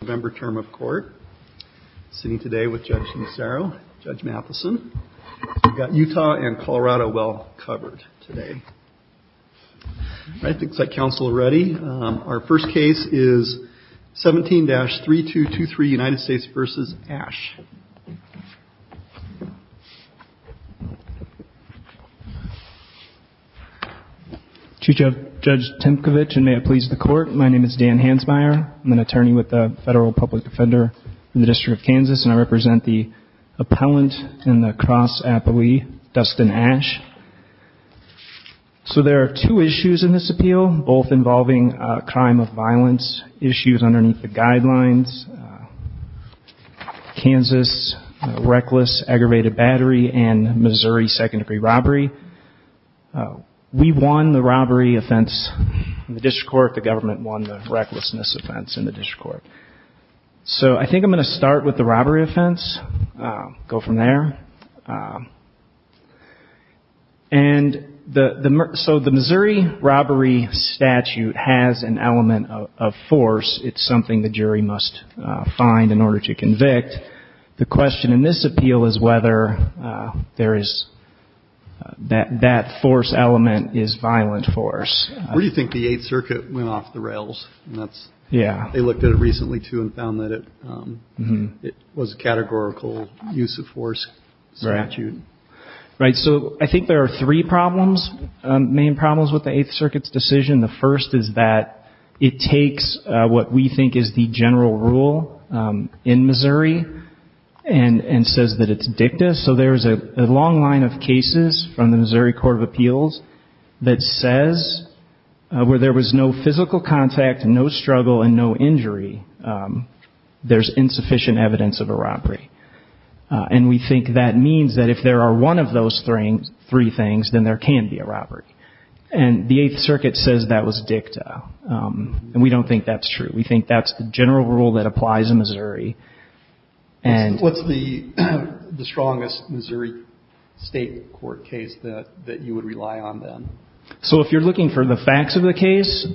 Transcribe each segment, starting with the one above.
November term of court, sitting today with Judge Cimicero, Judge Matheson. We've got Utah and Colorado well covered today. All right, looks like counsel are ready. Our first case is 17-3223, United States v. Ash. Chief Judge Timkovich, and may it please the court, my name is Dan Hansmeier. I'm an attorney with the Federal Public Defender in the District of Kansas, and I represent the appellant in the Cross Appellee, Dustin Ash. So there are two issues in this appeal, both involving crime of violence, issues underneath the guidelines, Kansas reckless aggravated battery and Missouri second-degree robbery. We won the robbery offense in the district court. The government won the recklessness offense in the district court. So I think I'm going to start with the robbery offense, go from there. And so the Missouri robbery statute has an element of force. It's something the jury must find in order to convict. The question in this appeal is whether that force element is violent force. Where do you think the Eighth Circuit went off the rails? They looked at it recently, too, and found that it was a categorical use of force statute. Right. So I think there are three problems, main problems with the Eighth Circuit's decision. The first is that it takes what we think is the general rule in Missouri and says that it's dicta. So there's a long line of cases from the Missouri Court of Appeals that says where there was no physical contact, no struggle and no injury, there's insufficient evidence of a robbery. And we think that means that if there are one of those three things, then there can be a robbery. And the Eighth Circuit says that was dicta. And we don't think that's true. We think that's the general rule that applies in Missouri. What's the strongest Missouri state court case that you would rely on then? So if you're looking for the facts of the case,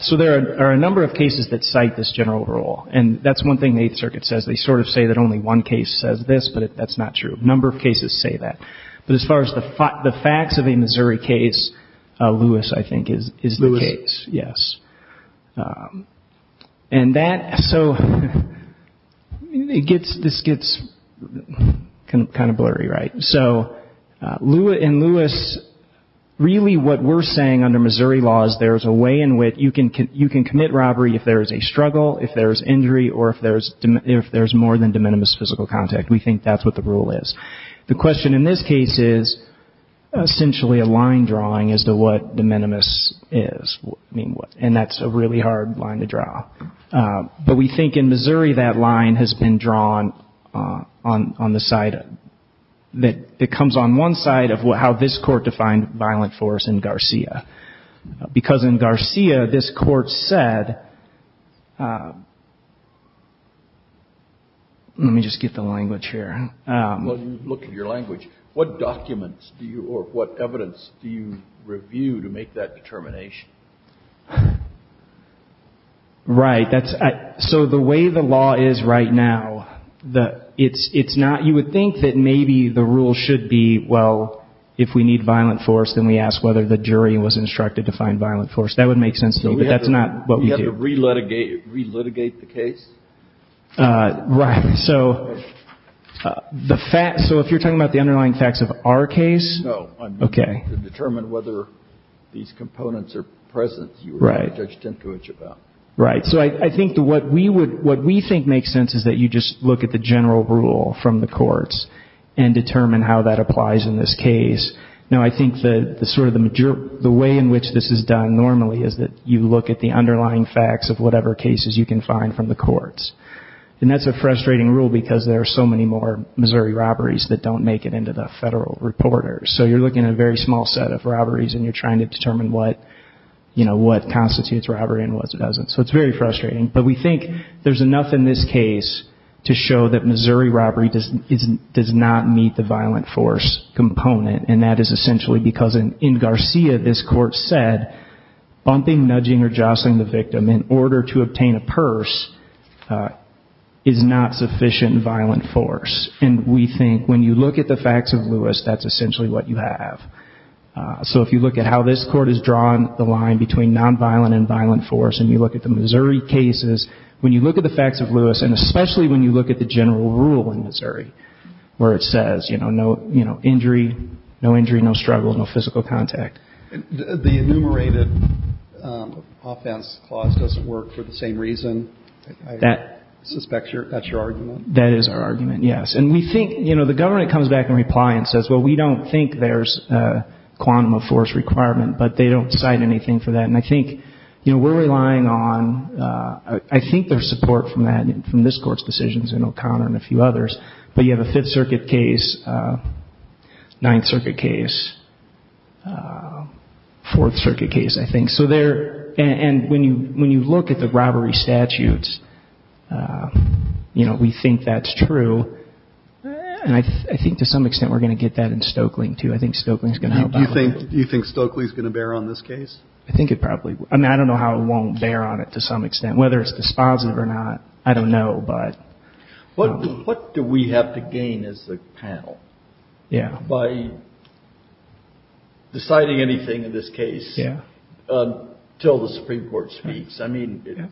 so there are a number of cases that cite this general rule. And that's one thing the Eighth Circuit says. They sort of say that only one case says this, but that's not true. A number of cases say that. But as far as the facts of a Missouri case, Lewis, I think, is the case. Lewis. Yes. And that, so this gets kind of blurry, right? So Lewis, really what we're saying under Missouri law is there's a way in which you can commit robbery if there's a struggle, if there's injury, or if there's more than de minimis physical contact. We think that's what the rule is. The question in this case is essentially a line drawing as to what de minimis is. And that's a really hard line to draw. But we think in Missouri that line has been drawn on the side that comes on one side of how this court defined violent force in Garcia. Because in Garcia, this court said, let me just get the language here. Well, you look at your language. What documents do you, or what evidence do you review to make that determination? Right. So the way the law is right now, it's not, you would think that maybe the rule should be, well, if we need violent force, then we ask whether the jury was instructed to find violent force. That would make sense to me, but that's not what we do. We have to re-litigate the case? Right. So the fact, so if you're talking about the underlying facts of our case? No. Okay. To determine whether these components are present. Right. You were talking to Judge Tinkovich about. Right. So I think what we would, what we think makes sense is that you just look at the general rule from the courts and determine how that applies in this case. Now, I think that sort of the way in which this is done normally is that you look at the underlying facts of whatever cases you can find from the courts. And that's a frustrating rule because there are so many more Missouri robberies that don't make it into the federal reporters. So you're looking at a very small set of robberies and you're trying to determine what, you know, what constitutes robbery and what doesn't. So it's very frustrating. But we think there's enough in this case to show that Missouri robbery does not meet the violent force component. And that is essentially because in Garcia, this court said bumping, nudging, or jostling the victim in order to obtain a purse is not sufficient violent force. And we think when you look at the facts of Lewis, that's essentially what you have. So if you look at how this court has drawn the line between nonviolent and violent force and you look at the Missouri cases, when you look at the facts of Lewis, and especially when you look at the general rule in Missouri where it says, you know, no injury, no struggle, no physical contact. The enumerated offense clause doesn't work for the same reason. I suspect that's your argument. That is our argument, yes. And we think, you know, the government comes back and replies and says, well, we don't think there's a quantum of force requirement. But they don't cite anything for that. And I think, you know, we're relying on, I think there's support from this court's decisions and O'Connor and a few others. But you have a Fifth Circuit case, Ninth Circuit case, Fourth Circuit case, I think. So there, and when you look at the robbery statutes, you know, we think that's true. And I think to some extent we're going to get that in Stokeling, too. I think Stokeling's going to help out a little bit. Do you think Stokeling's going to bear on this case? I think it probably will. I mean, I don't know how it won't bear on it to some extent. Whether it's dispositive or not, I don't know, but. What do we have to gain as a panel? Yeah. By deciding anything in this case. Yeah. Until the Supreme Court speaks. I mean,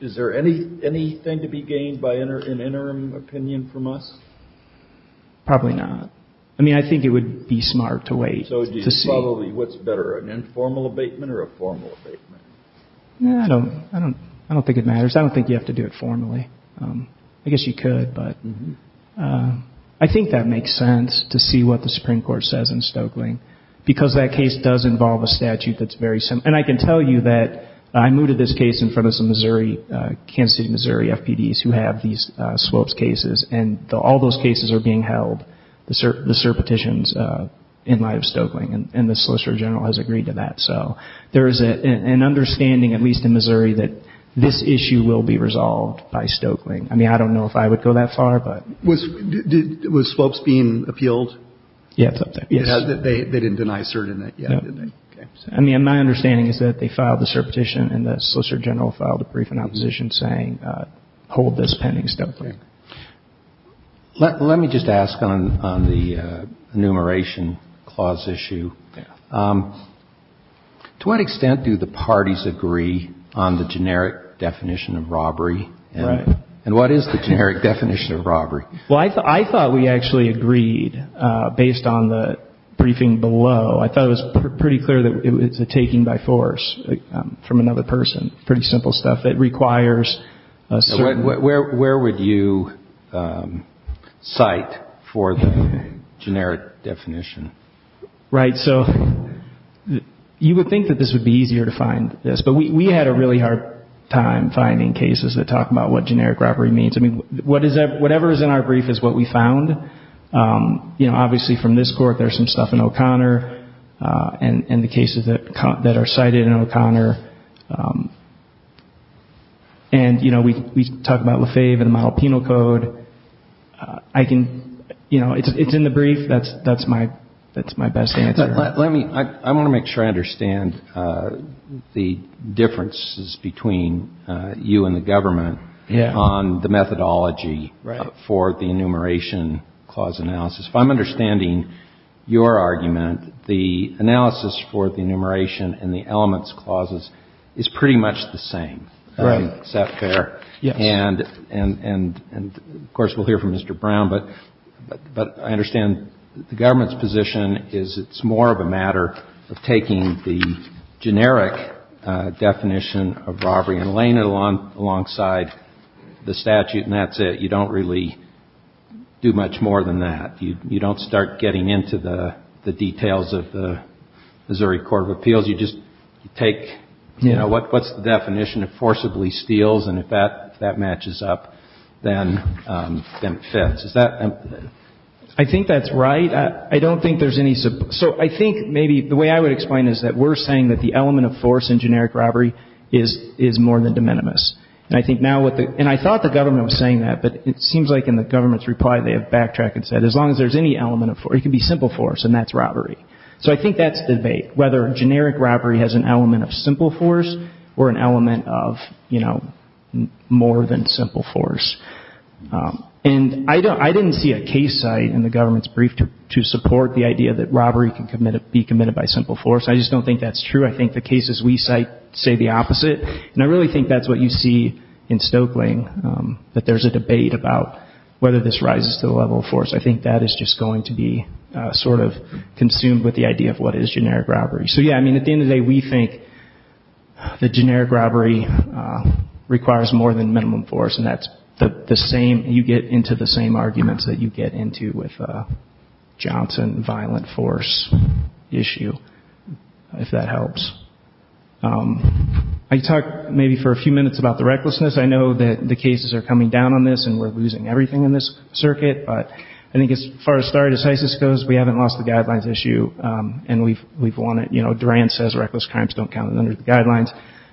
is there anything to be gained by an interim opinion from us? Probably not. I mean, I think it would be smart to wait to see. Probably what's better, an informal abatement or a formal abatement? No, I don't think it matters. I don't think you have to do it formally. I guess you could, but. I think that makes sense to see what the Supreme Court says in Stokeling. Because that case does involve a statute that's very similar. And I can tell you that I mooted this case in front of some Missouri, Kansas City, Missouri, FPDs who have these swillips cases. And all those cases are being held, the cert petitions, in light of Stokeling. And the Solicitor General has agreed to that. So there is an understanding, at least in Missouri, that this issue will be resolved by Stokeling. I mean, I don't know if I would go that far, but. Was Swillips being appealed? Yeah, it's up there. They didn't deny cert in it yet, did they? No. I mean, my understanding is that they filed the cert petition and the Solicitor General filed a brief in opposition saying, hold this pending Stokeling. Let me just ask on the enumeration clause issue. To what extent do the parties agree on the generic definition of robbery? Right. And what is the generic definition of robbery? Well, I thought we actually agreed based on the briefing below. I thought it was pretty clear that it was a taking by force from another person. Pretty simple stuff that requires a cert. Where would you cite for the generic definition? Right. So you would think that this would be easier to find this. But we had a really hard time finding cases that talk about what generic robbery means. I mean, whatever is in our brief is what we found. Obviously, from this court, there's some stuff in O'Connor and the cases that are cited in O'Connor. And, you know, we talk about Lefebvre and the model penal code. I can, you know, it's in the brief. That's my best answer. Let me, I want to make sure I understand the differences between you and the government on the methodology for the enumeration clause analysis. If I'm understanding your argument, the analysis for the enumeration and the elements clauses is pretty much the same. Right. Is that fair? Yes. And, of course, we'll hear from Mr. Brown. But I understand the government's position is it's more of a matter of taking the generic definition of robbery and laying it alongside the statute. And that's it. You don't really do much more than that. You don't start getting into the details of the Missouri Court of Appeals. You just take, you know, what's the definition of forcibly steals? And if that matches up, then it fits. Is that? I think that's right. I don't think there's any. So I think maybe the way I would explain is that we're saying that the element of force in generic robbery is more than de minimis. And I thought the government was saying that, but it seems like in the government's reply they have backtracked and said, as long as there's any element of force, it can be simple force, and that's robbery. So I think that's the debate, whether generic robbery has an element of simple force or an element of, you know, more than simple force. And I didn't see a case site in the government's brief to support the idea that robbery can be committed by simple force. I just don't think that's true. I think the cases we cite say the opposite. And I really think that's what you see in Stokeling, that there's a debate about whether this rises to the level of force. I think that is just going to be sort of consumed with the idea of what is generic robbery. So, yeah, I mean, at the end of the day, we think that generic robbery requires more than minimum force, and that's the same, you get into the same arguments that you get into with Johnson violent force issue, if that helps. I talked maybe for a few minutes about the recklessness. I know that the cases are coming down on this and we're losing everything in this circuit, but I think as far as stare decisis goes, we haven't lost the guidelines issue, and we've won it. You know, Duran says reckless crimes don't count under the guidelines.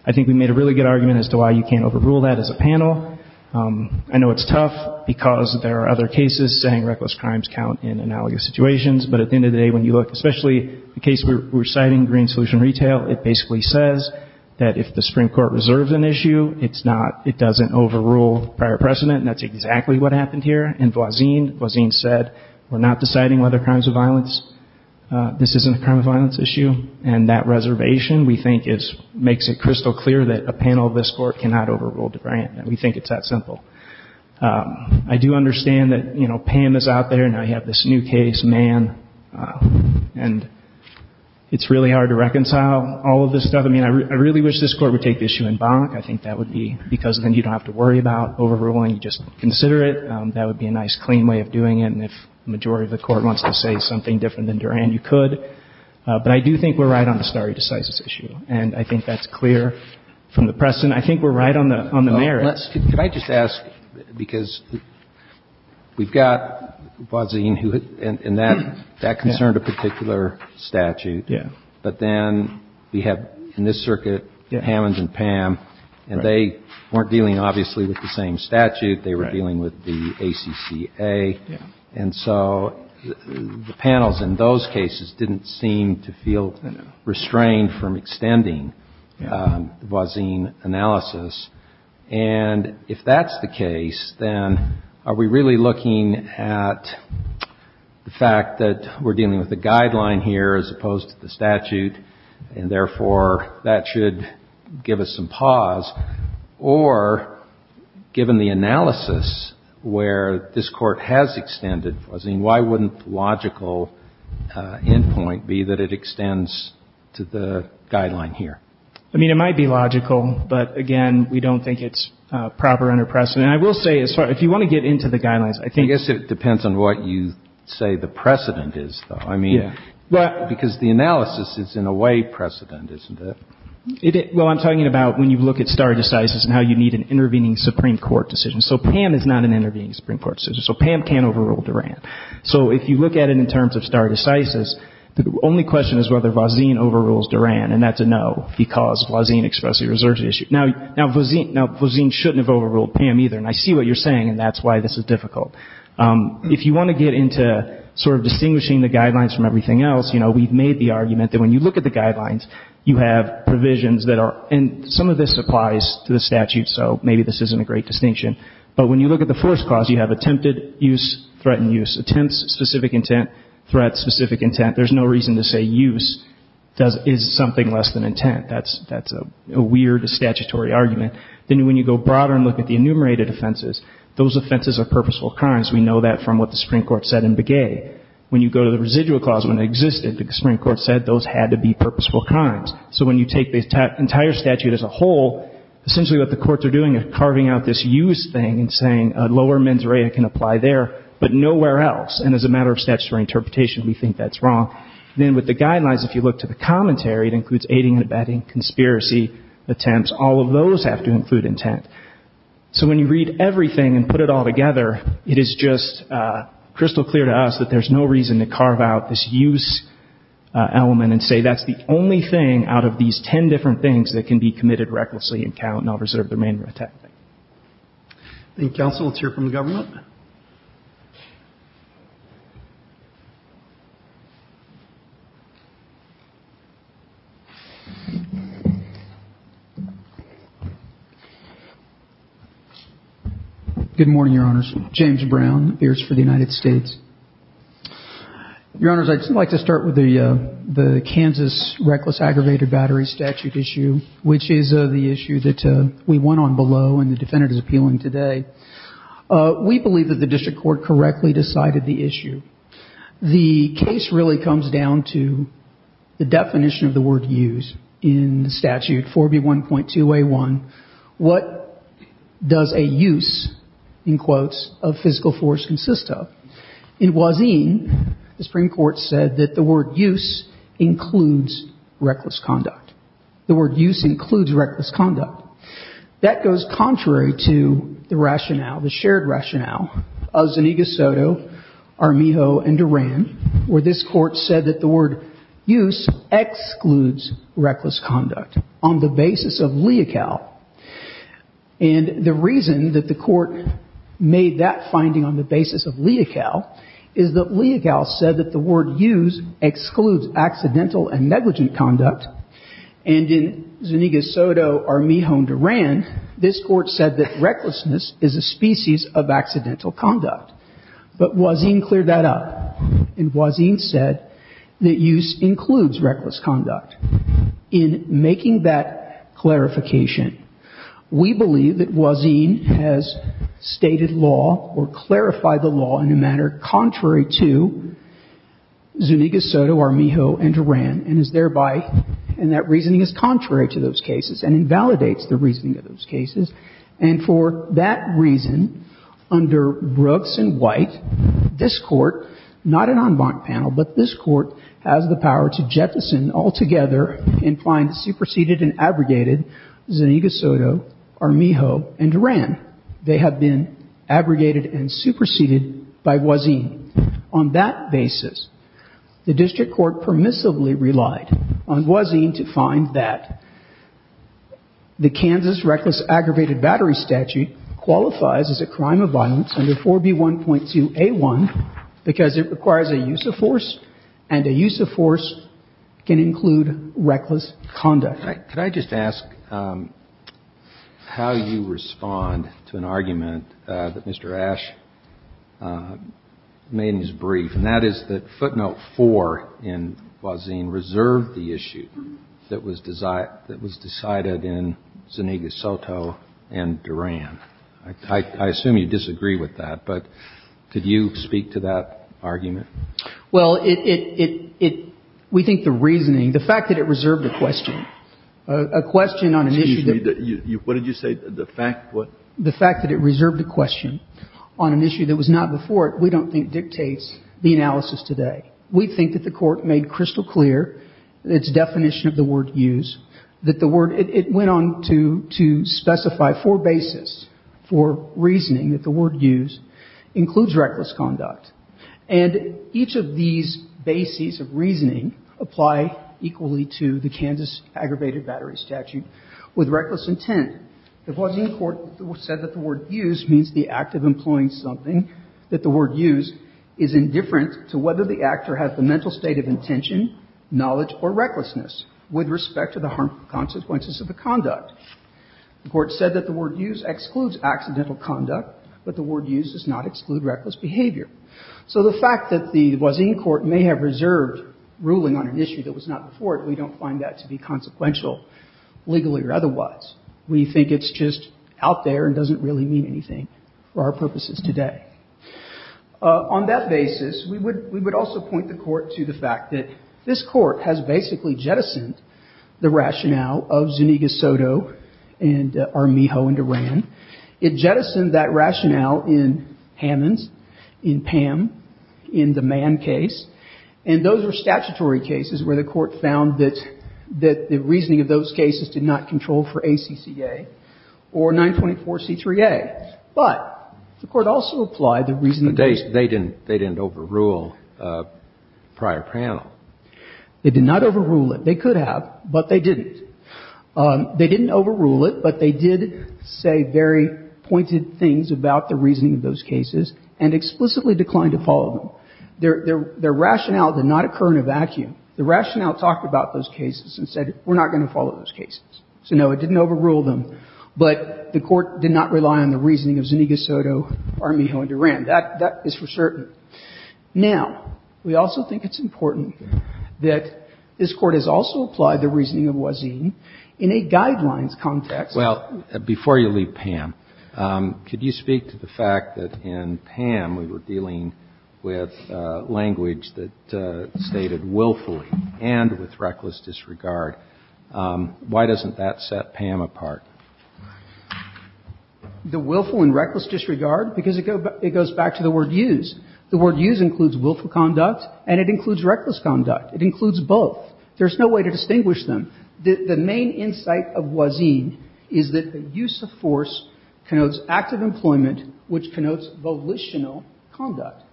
I think we made a really good argument as to why you can't overrule that as a panel. I know it's tough because there are other cases saying reckless crimes count in analogous situations, but at the end of the day, when you look, especially the case we're citing, Green Solution Retail, it basically says that if the Supreme Court reserves an issue, it's not, it doesn't overrule prior precedent, and that's exactly what happened here. In Voisin, Voisin said we're not deciding whether crimes of violence, this isn't a crime of violence issue, and that reservation, we think, makes it crystal clear that a panel of this court cannot overrule DeBriant, and we think it's that simple. I do understand that, you know, Pam is out there, and I have this new case, Mann, and it's really hard to reconcile all of this stuff. I mean, I really wish this Court would take the issue in bonk. I think that would be because then you don't have to worry about overruling, you just consider it. That would be a nice, clean way of doing it, and if the majority of the Court wants to say something different than Duran, you could, but I do think we're right on the stare decisis issue, and I think that's clear from the precedent. I think we're right on the merits. Could I just ask, because we've got Voisin, and that concerned a particular statute, but then we have, in this circuit, Hammonds and Pam, and they weren't dealing, obviously, with the same statute. They were dealing with the ACCA, and so the panels in those cases didn't seem to feel restrained from extending the Voisin analysis, and if that's the case, then are we really looking at the fact that we're dealing with a guideline here as opposed to the statute, and therefore that should give us some pause, or given the analysis where this Court has extended Voisin, why wouldn't the logical end point be that it extends to the guideline here? I mean, it might be logical, but, again, we don't think it's proper under precedent. I will say, if you want to get into the guidelines, I think — I guess it depends on what you say the precedent is, though. I mean, because the analysis is, in a way, precedent, isn't it? Well, I'm talking about when you look at stare decisis and how you need an intervening Supreme Court decision. So Pam is not an intervening Supreme Court decision. So Pam can't overrule Duran. So if you look at it in terms of stare decisis, the only question is whether Voisin overrules Duran, and that's a no because Voisin expressly reserves the issue. Now, Voisin shouldn't have overruled Pam either, and I see what you're saying, and that's why this is difficult. If you want to get into sort of distinguishing the guidelines from everything else, you know, we've made the argument that when you look at the guidelines, you have provisions that are — and some of this applies to the statute, so maybe this isn't a great distinction, but when you look at the first clause, you have attempted use, threatened use. Attempts, specific intent. Threat, specific intent. There's no reason to say use is something less than intent. That's a weird statutory argument. Then when you go broader and look at the enumerated offenses, those offenses are purposeful crimes. We know that from what the Supreme Court said in Begay. When you go to the residual clause, when it existed, the Supreme Court said those had to be purposeful crimes. So when you take the entire statute as a whole, essentially what the courts are doing is carving out this use thing and saying a lower mens rea can apply there, but nowhere else. And as a matter of statutory interpretation, we think that's wrong. Then with the guidelines, if you look to the commentary, it includes aiding and abetting, conspiracy attempts. All of those have to include intent. So when you read everything and put it all together, it is just crystal clear to us that there's no reason to carve out this use element and say that's the only thing out of these ten different things that can be committed recklessly and count, and I'll reserve the remainder of time. Thank you, Counsel. Let's hear from the government. Good morning, Your Honors. James Brown, Appears for the United States. Your Honors, I'd like to start with the Kansas reckless aggravated battery statute issue, which is the issue that we went on below and the defendant is appealing today. We believe that the district court correctly decided the issue. The case really comes down to the definition of the word use in the statute, 4B1.2a1. What does a use, in quotes, of physical force consist of? In Wazin, the Supreme Court said that the word use includes reckless conduct. The word use includes reckless conduct. That goes contrary to the rationale, the shared rationale of Zaniga Soto, Armijo, and Duran, where this court said that the word use excludes reckless conduct on the basis of leocal. And the reason that the court made that finding on the basis of leocal is that leocal said that the word use excludes accidental and negligent conduct. And in Zaniga Soto, Armijo, and Duran, this court said that recklessness is a species of accidental conduct. But Wazin cleared that up. And Wazin said that use includes reckless conduct. In making that clarification, we believe that Wazin has stated law or clarified the law in a manner contrary to Zaniga Soto, Armijo, and Duran, and is thereby, and that reasoning is contrary to those cases and invalidates the reasoning of those cases. And for that reason, under Brooks and White, this court, not an en banc panel, but this court, has the power to jettison altogether and find superseded and abrogated Zaniga Soto, Armijo, and Duran. They have been abrogated and superseded by Wazin. On that basis, the district court permissively relied on Wazin to find that the Kansas reckless aggravated battery statute qualifies as a crime of violence under 4B1.2a1 because it requires a use of force, and a use of force can include reckless conduct. Could I just ask how you respond to an argument that Mr. Ash made in his brief, and that is that footnote four in Wazin reserved the issue that was decided in Zaniga Soto and Duran. I assume you disagree with that, but could you speak to that argument? Well, it, it, it, we think the reasoning, the fact that it reserved a question, a question on an issue that Excuse me. What did you say? The fact what? The fact that it reserved a question on an issue that was not before it, we don't think dictates the analysis today. We think that the Court made crystal clear its definition of the word use, that the word, it went on to specify four bases for reasoning that the word use includes reckless conduct, and each of these bases of reasoning apply equally to the Kansas aggravated battery statute with reckless intent. The Wazin court said that the word use means the act of employing something, that the word use is indifferent to whether the actor has the mental state of intention, knowledge, or recklessness with respect to the harmful consequences of the conduct. The Court said that the word use excludes accidental conduct, but the word use does not exclude reckless behavior. So the fact that the Wazin court may have reserved ruling on an issue that was not before it, we don't find that to be consequential, legally or otherwise. We think it's just out there and doesn't really mean anything for our purposes today. On that basis, we would, we would also point the Court to the fact that this Court has basically jettisoned the rationale of Zuniga-Soto and Armijo and Duran. It jettisoned that rationale in Hammons, in Pam, in the Mann case, and those were statutory cases where the Court found that, that the reasoning of those cases did not control for ACCA or 924C3A. But the Court also applied the reason that they didn't, they didn't overrule prior panel. They did not overrule it. They could have, but they didn't. They didn't overrule it, but they did say very pointed things about the reasoning of those cases and explicitly declined to follow them. Their, their, their rationale did not occur in a vacuum. The rationale talked about those cases and said we're not going to follow those cases. So, no, it didn't overrule them, but the Court did not rely on the reasoning of Zuniga-Soto, Armijo and Duran. That, that is for certain. Now, we also think it's important that this Court has also applied the reasoning of Wazin in a guidelines context. Well, before you leave Pam, could you speak to the fact that in Pam we were dealing with language that stated willfully and with reckless disregard. Why doesn't that set Pam apart? The willful and reckless disregard? Because it goes back to the word use. The word use includes willful conduct and it includes reckless conduct. It includes both. There's no way to distinguish them. The, the main insight of Wazin is that the use of force connotes active employment, which connotes volitional conduct.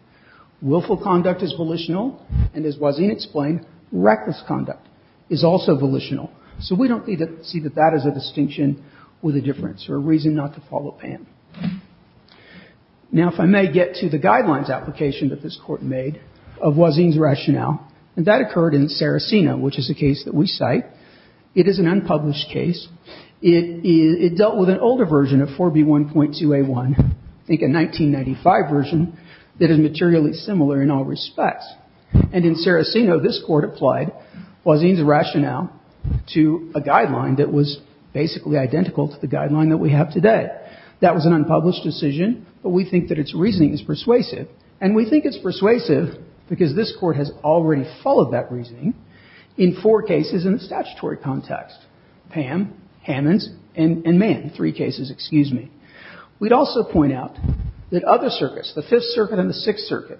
Willful conduct is volitional, and as Wazin explained, reckless conduct is also volitional. So we don't need to see that that is a distinction with a difference or a reason not to follow Pam. Now, if I may get to the guidelines application that this Court made of Wazin's rationale, and that occurred in Saraceno, which is a case that we cite. It is an unpublished case. It, it dealt with an older version of 4B1.2A1, I think a 1995 version, that is materially similar in all respects. And in Saraceno, this Court applied Wazin's rationale to a guideline that was basically identical to the guideline that we have today. That, that was an unpublished decision, but we think that its reasoning is persuasive. And we think it's persuasive because this Court has already followed that reasoning in four cases in the statutory context. Pam, Hammons, and, and Mann, three cases, excuse me. We'd also point out that other circuits, the Fifth Circuit and the Sixth Circuit,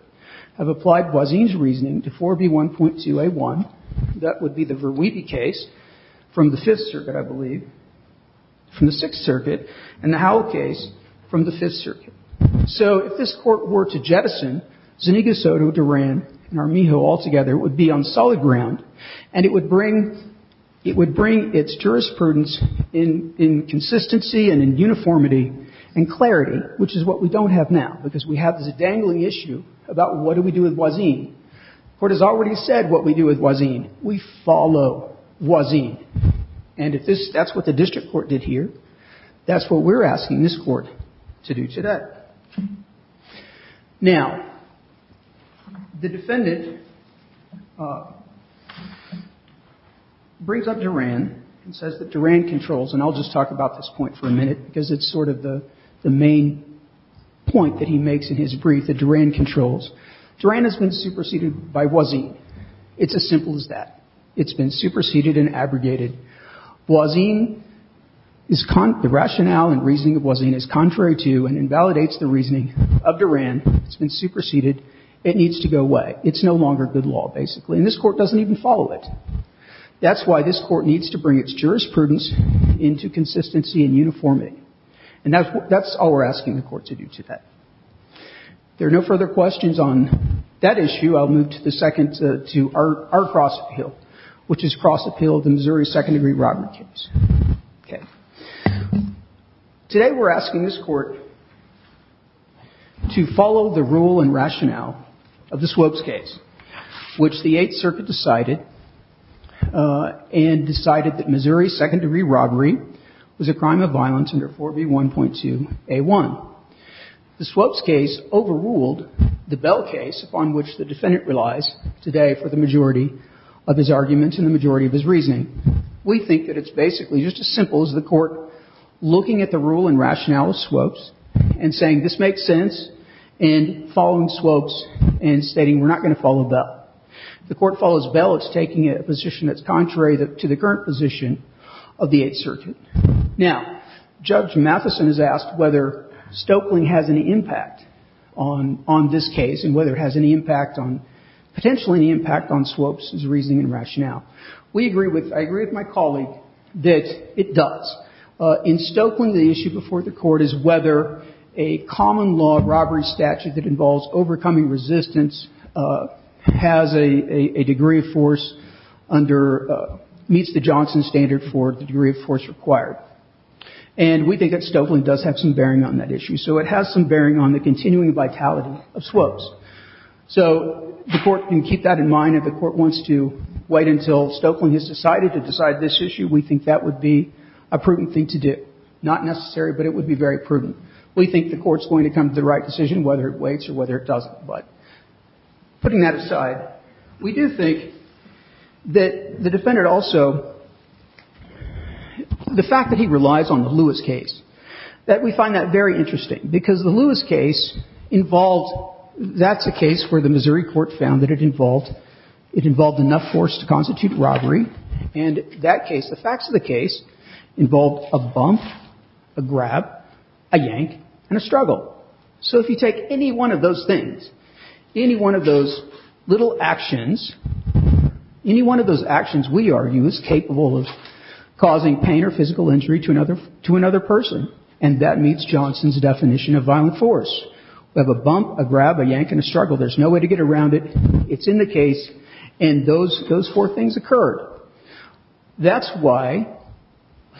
have applied Wazin's reasoning to 4B1.2A1. That would be the Verweebe case from the Fifth Circuit, I believe, from the Sixth Circuit. And the Howell case from the Fifth Circuit. So if this Court were to jettison Zuniga, Soto, Duran, and Armijo altogether, it would be on solid ground, and it would bring, it would bring its jurisprudence in, in consistency and in uniformity and clarity, which is what we don't have now, because we have this dangling issue about what do we do with Wazin. The Court has already said what we do with Wazin. We follow Wazin. And if this, that's what the district court did here, that's what we're asking this Court to do today. Now, the defendant brings up Duran and says that Duran controls, and I'll just talk about this point for a minute, because it's sort of the, the main point that he makes in his brief, that Duran controls. Duran has been superseded by Wazin. It's as simple as that. It's been superseded and abrogated. Wazin is, the rationale and reasoning of Wazin is contrary to and invalidates the reasoning of Duran. It's been superseded. It needs to go away. It's no longer good law, basically. And this Court doesn't even follow it. That's why this Court needs to bring its jurisprudence into consistency and uniformity. And that's what, that's all we're asking the Court to do today. If there are no further questions on that issue, I'll move to the second, to R. Cross Appeal, which is Cross Appeal of the Missouri Second Degree Robbery Case. Okay. Today we're asking this Court to follow the rule and rationale of the Swopes case, which the Eighth Circuit decided, and decided that Missouri second degree robbery was a crime of violence under 4B1.2a1. The Swopes case overruled the Bell case, upon which the defendant relies today for the majority of his arguments and the majority of his reasoning. We think that it's basically just as simple as the Court looking at the rule and rationale of Swopes, and saying this makes sense, and following Swopes, and stating we're not going to follow Bell. If the Court follows Bell, it's taking a position that's contrary to the current position of the Eighth Circuit. Now, Judge Matheson has asked whether Stoeckling has any impact on, on this case, and whether it has any impact on, potentially any impact on Swopes' reasoning and rationale. We agree with, I agree with my colleague that it does. In Stoeckling, the issue before the Court is whether a common law robbery statute that involves overcoming resistance has a degree of force under, meets the Johnson standard for the degree of force required. And we think that Stoeckling does have some bearing on that issue. So it has some bearing on the continuing vitality of Swopes. So the Court can keep that in mind. If the Court wants to wait until Stoeckling has decided to decide this issue, we think that would be a prudent thing to do. Not necessary, but it would be very prudent. We think the Court's going to come to the right decision whether it waits or whether it doesn't. But putting that aside, we do think that the defendant also, the fact that he relies on the Lewis case, that we find that very interesting. Because the Lewis case involved, that's a case where the Missouri Court found that it involved, it involved enough force to constitute robbery. And that case, the facts of the case, involved a bump, a grab, a yank, and a struggle. So if you take any one of those things, any one of those little actions, any one of those actions, we argue, is capable of causing pain or physical injury to another person. And that meets Johnson's definition of violent force. We have a bump, a grab, a yank, and a struggle. There's no way to get around it. It's in the case. And those four things occurred. That's why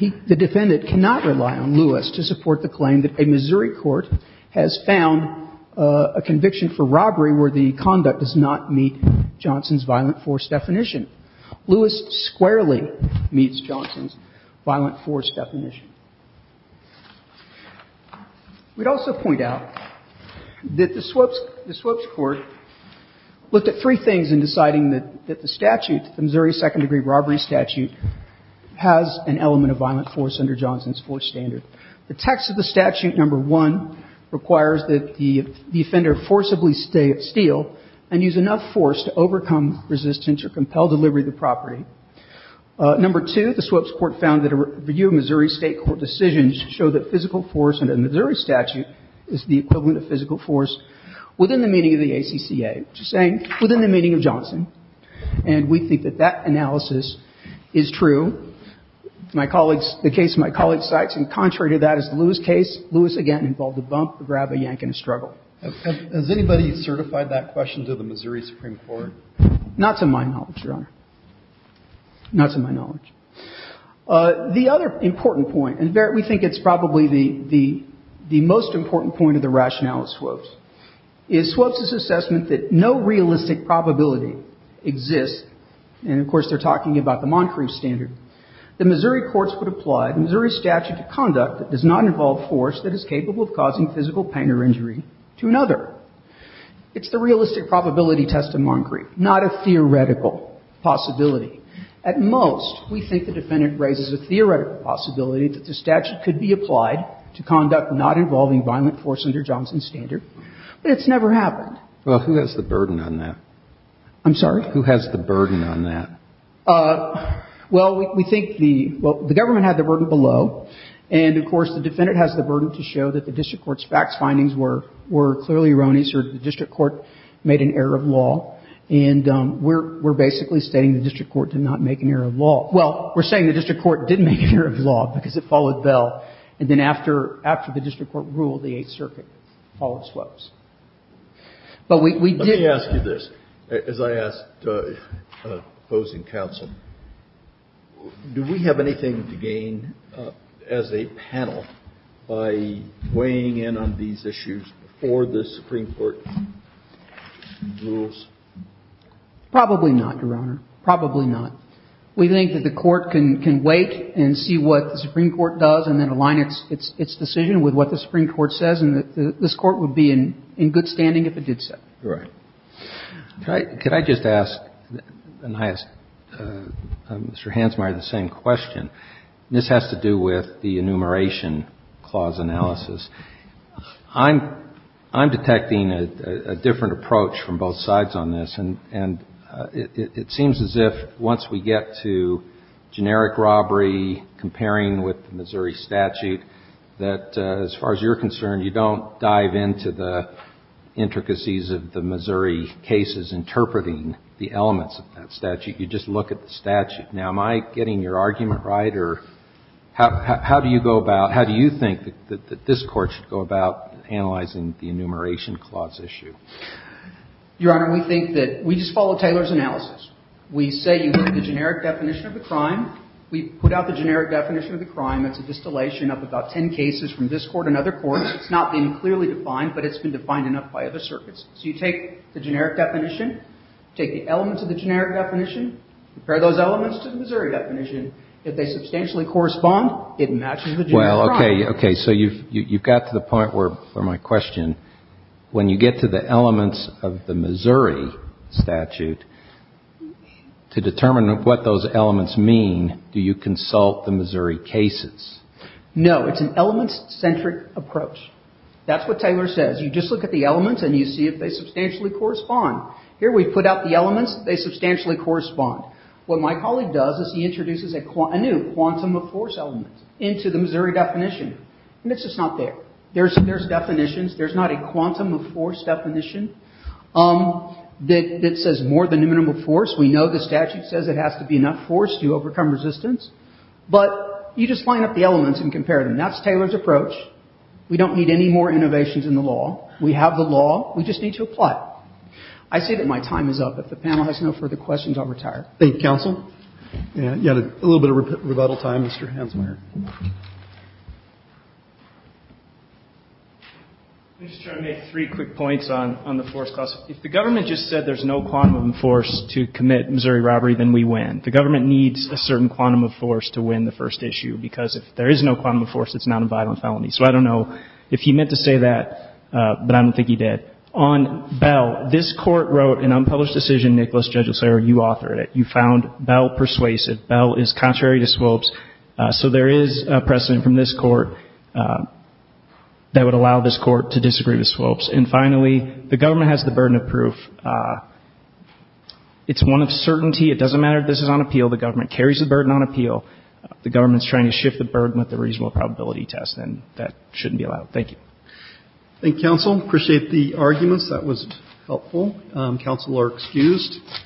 the defendant cannot rely on Lewis to support the claim that a Missouri court has found a conviction for robbery where the conduct does not meet Johnson's violent force definition. Lewis squarely meets Johnson's violent force definition. We'd also point out that the Swoap's Court looked at three things in deciding that the statute, the Missouri Second Degree Robbery Statute, has an element of violent force under Johnson's fourth standard. The text of the statute, number one, requires that the offender forcibly steal and use enough force to overcome resistance or compel delivery of the property. Number two, the Swoap's Court found that a review of Missouri State court decisions show that physical force under the Missouri statute is the equivalent of physical force within the meaning of the ACCA, which is saying within the meaning of Johnson. And we think that that analysis is true. My colleagues, the case my colleague cites, in contrary to that is the Lewis case. Lewis, again, involved a bump, a grab, a yank, and a struggle. Has anybody certified that question to the Missouri Supreme Court? Not to my knowledge, Your Honor. Not to my knowledge. The other important point, and we think it's probably the most important point of the rationale of Swoap's, is Swoap's' assessment that no realistic probability exists. And, of course, they're talking about the Moncrief standard. The Missouri courts would apply the Missouri statute to conduct that does not involve force that is capable of causing physical pain or injury to another. It's the realistic probability test of Moncrief, not a theoretical possibility. At most, we think the defendant raises a theoretical possibility that the statute could be applied to conduct not involving violent force under Johnson's standard, but it's never happened. Well, who has the burden on that? I'm sorry? Who has the burden on that? Well, we think the – well, the government had the burden below, and, of course, the defendant has the burden to show that the district court's facts findings were clearly erroneous or the district court made an error of law. And we're basically stating the district court did not make an error of law. Well, we're saying the district court didn't make an error of law because it followed Bell, and then after the district court ruled, the Eighth Circuit followed Swoap's. But we did – Let me ask you this. As I asked opposing counsel, do we have anything to gain as a panel by weighing in on these issues before the Supreme Court rules? Probably not, Your Honor. Probably not. We think that the Court can wait and see what the Supreme Court does and then align its decision with what the Supreme Court says, and this Court would be in good standing if it did so. Right. Could I just ask – and I asked Mr. Hansmeier the same question. This has to do with the enumeration clause analysis. I'm detecting a different approach from both sides on this, and it seems as if once we get to generic robbery, comparing with the Missouri statute, that as far as you're into the intricacies of the Missouri cases interpreting the elements of that statute, you just look at the statute. Now, am I getting your argument right, or how do you go about – how do you think that this Court should go about analyzing the enumeration clause issue? Your Honor, we think that – we just follow Taylor's analysis. We say you look at the generic definition of the crime. We put out the generic definition of the crime. That's a distillation of about ten cases from this Court and other courts. It's not been clearly defined, but it's been defined enough by other circuits. So you take the generic definition, take the elements of the generic definition, compare those elements to the Missouri definition. If they substantially correspond, it matches the generic crime. Well, okay. Okay. So you've got to the point where, for my question, when you get to the elements of the Missouri statute, to determine what those elements mean, do you consult the Missouri cases? No. It's an element-centric approach. That's what Taylor says. You just look at the elements and you see if they substantially correspond. Here we put out the elements. They substantially correspond. What my colleague does is he introduces a new quantum of force element into the Missouri definition, and it's just not there. There's definitions. There's not a quantum of force definition that says more than a minimum of force. We know the statute says it has to be enough force to overcome resistance, but you just line up the elements and compare them. That's Taylor's approach. We don't need any more innovations in the law. We have the law. We just need to apply it. I say that my time is up. If the panel has no further questions, I'll retire. Thank you, counsel. You had a little bit of rebuttal time, Mr. Hansmeier. I'm just trying to make three quick points on the force class. If the government just said there's no quantum of force to commit Missouri robbery, then we win. The government needs a certain quantum of force to win the first issue, because if there is no quantum of force, it's not a vital felony. So I don't know if he meant to say that, but I don't think he did. On Bell, this Court wrote an unpublished decision, Nicholas, Judge O'Sullivan, you authored it. You found Bell persuasive. Bell is contrary to swopes, so there is a precedent from this Court that would allow this Court to disagree with swopes. And finally, the government has the burden of proof. It's one of certainty. It doesn't matter if this is on appeal. The government carries the burden on appeal. The government is trying to shift the burden with the reasonable probability test, and that shouldn't be allowed. Thank you. Thank you, counsel. Appreciate the arguments. That was helpful. Counsel are excused.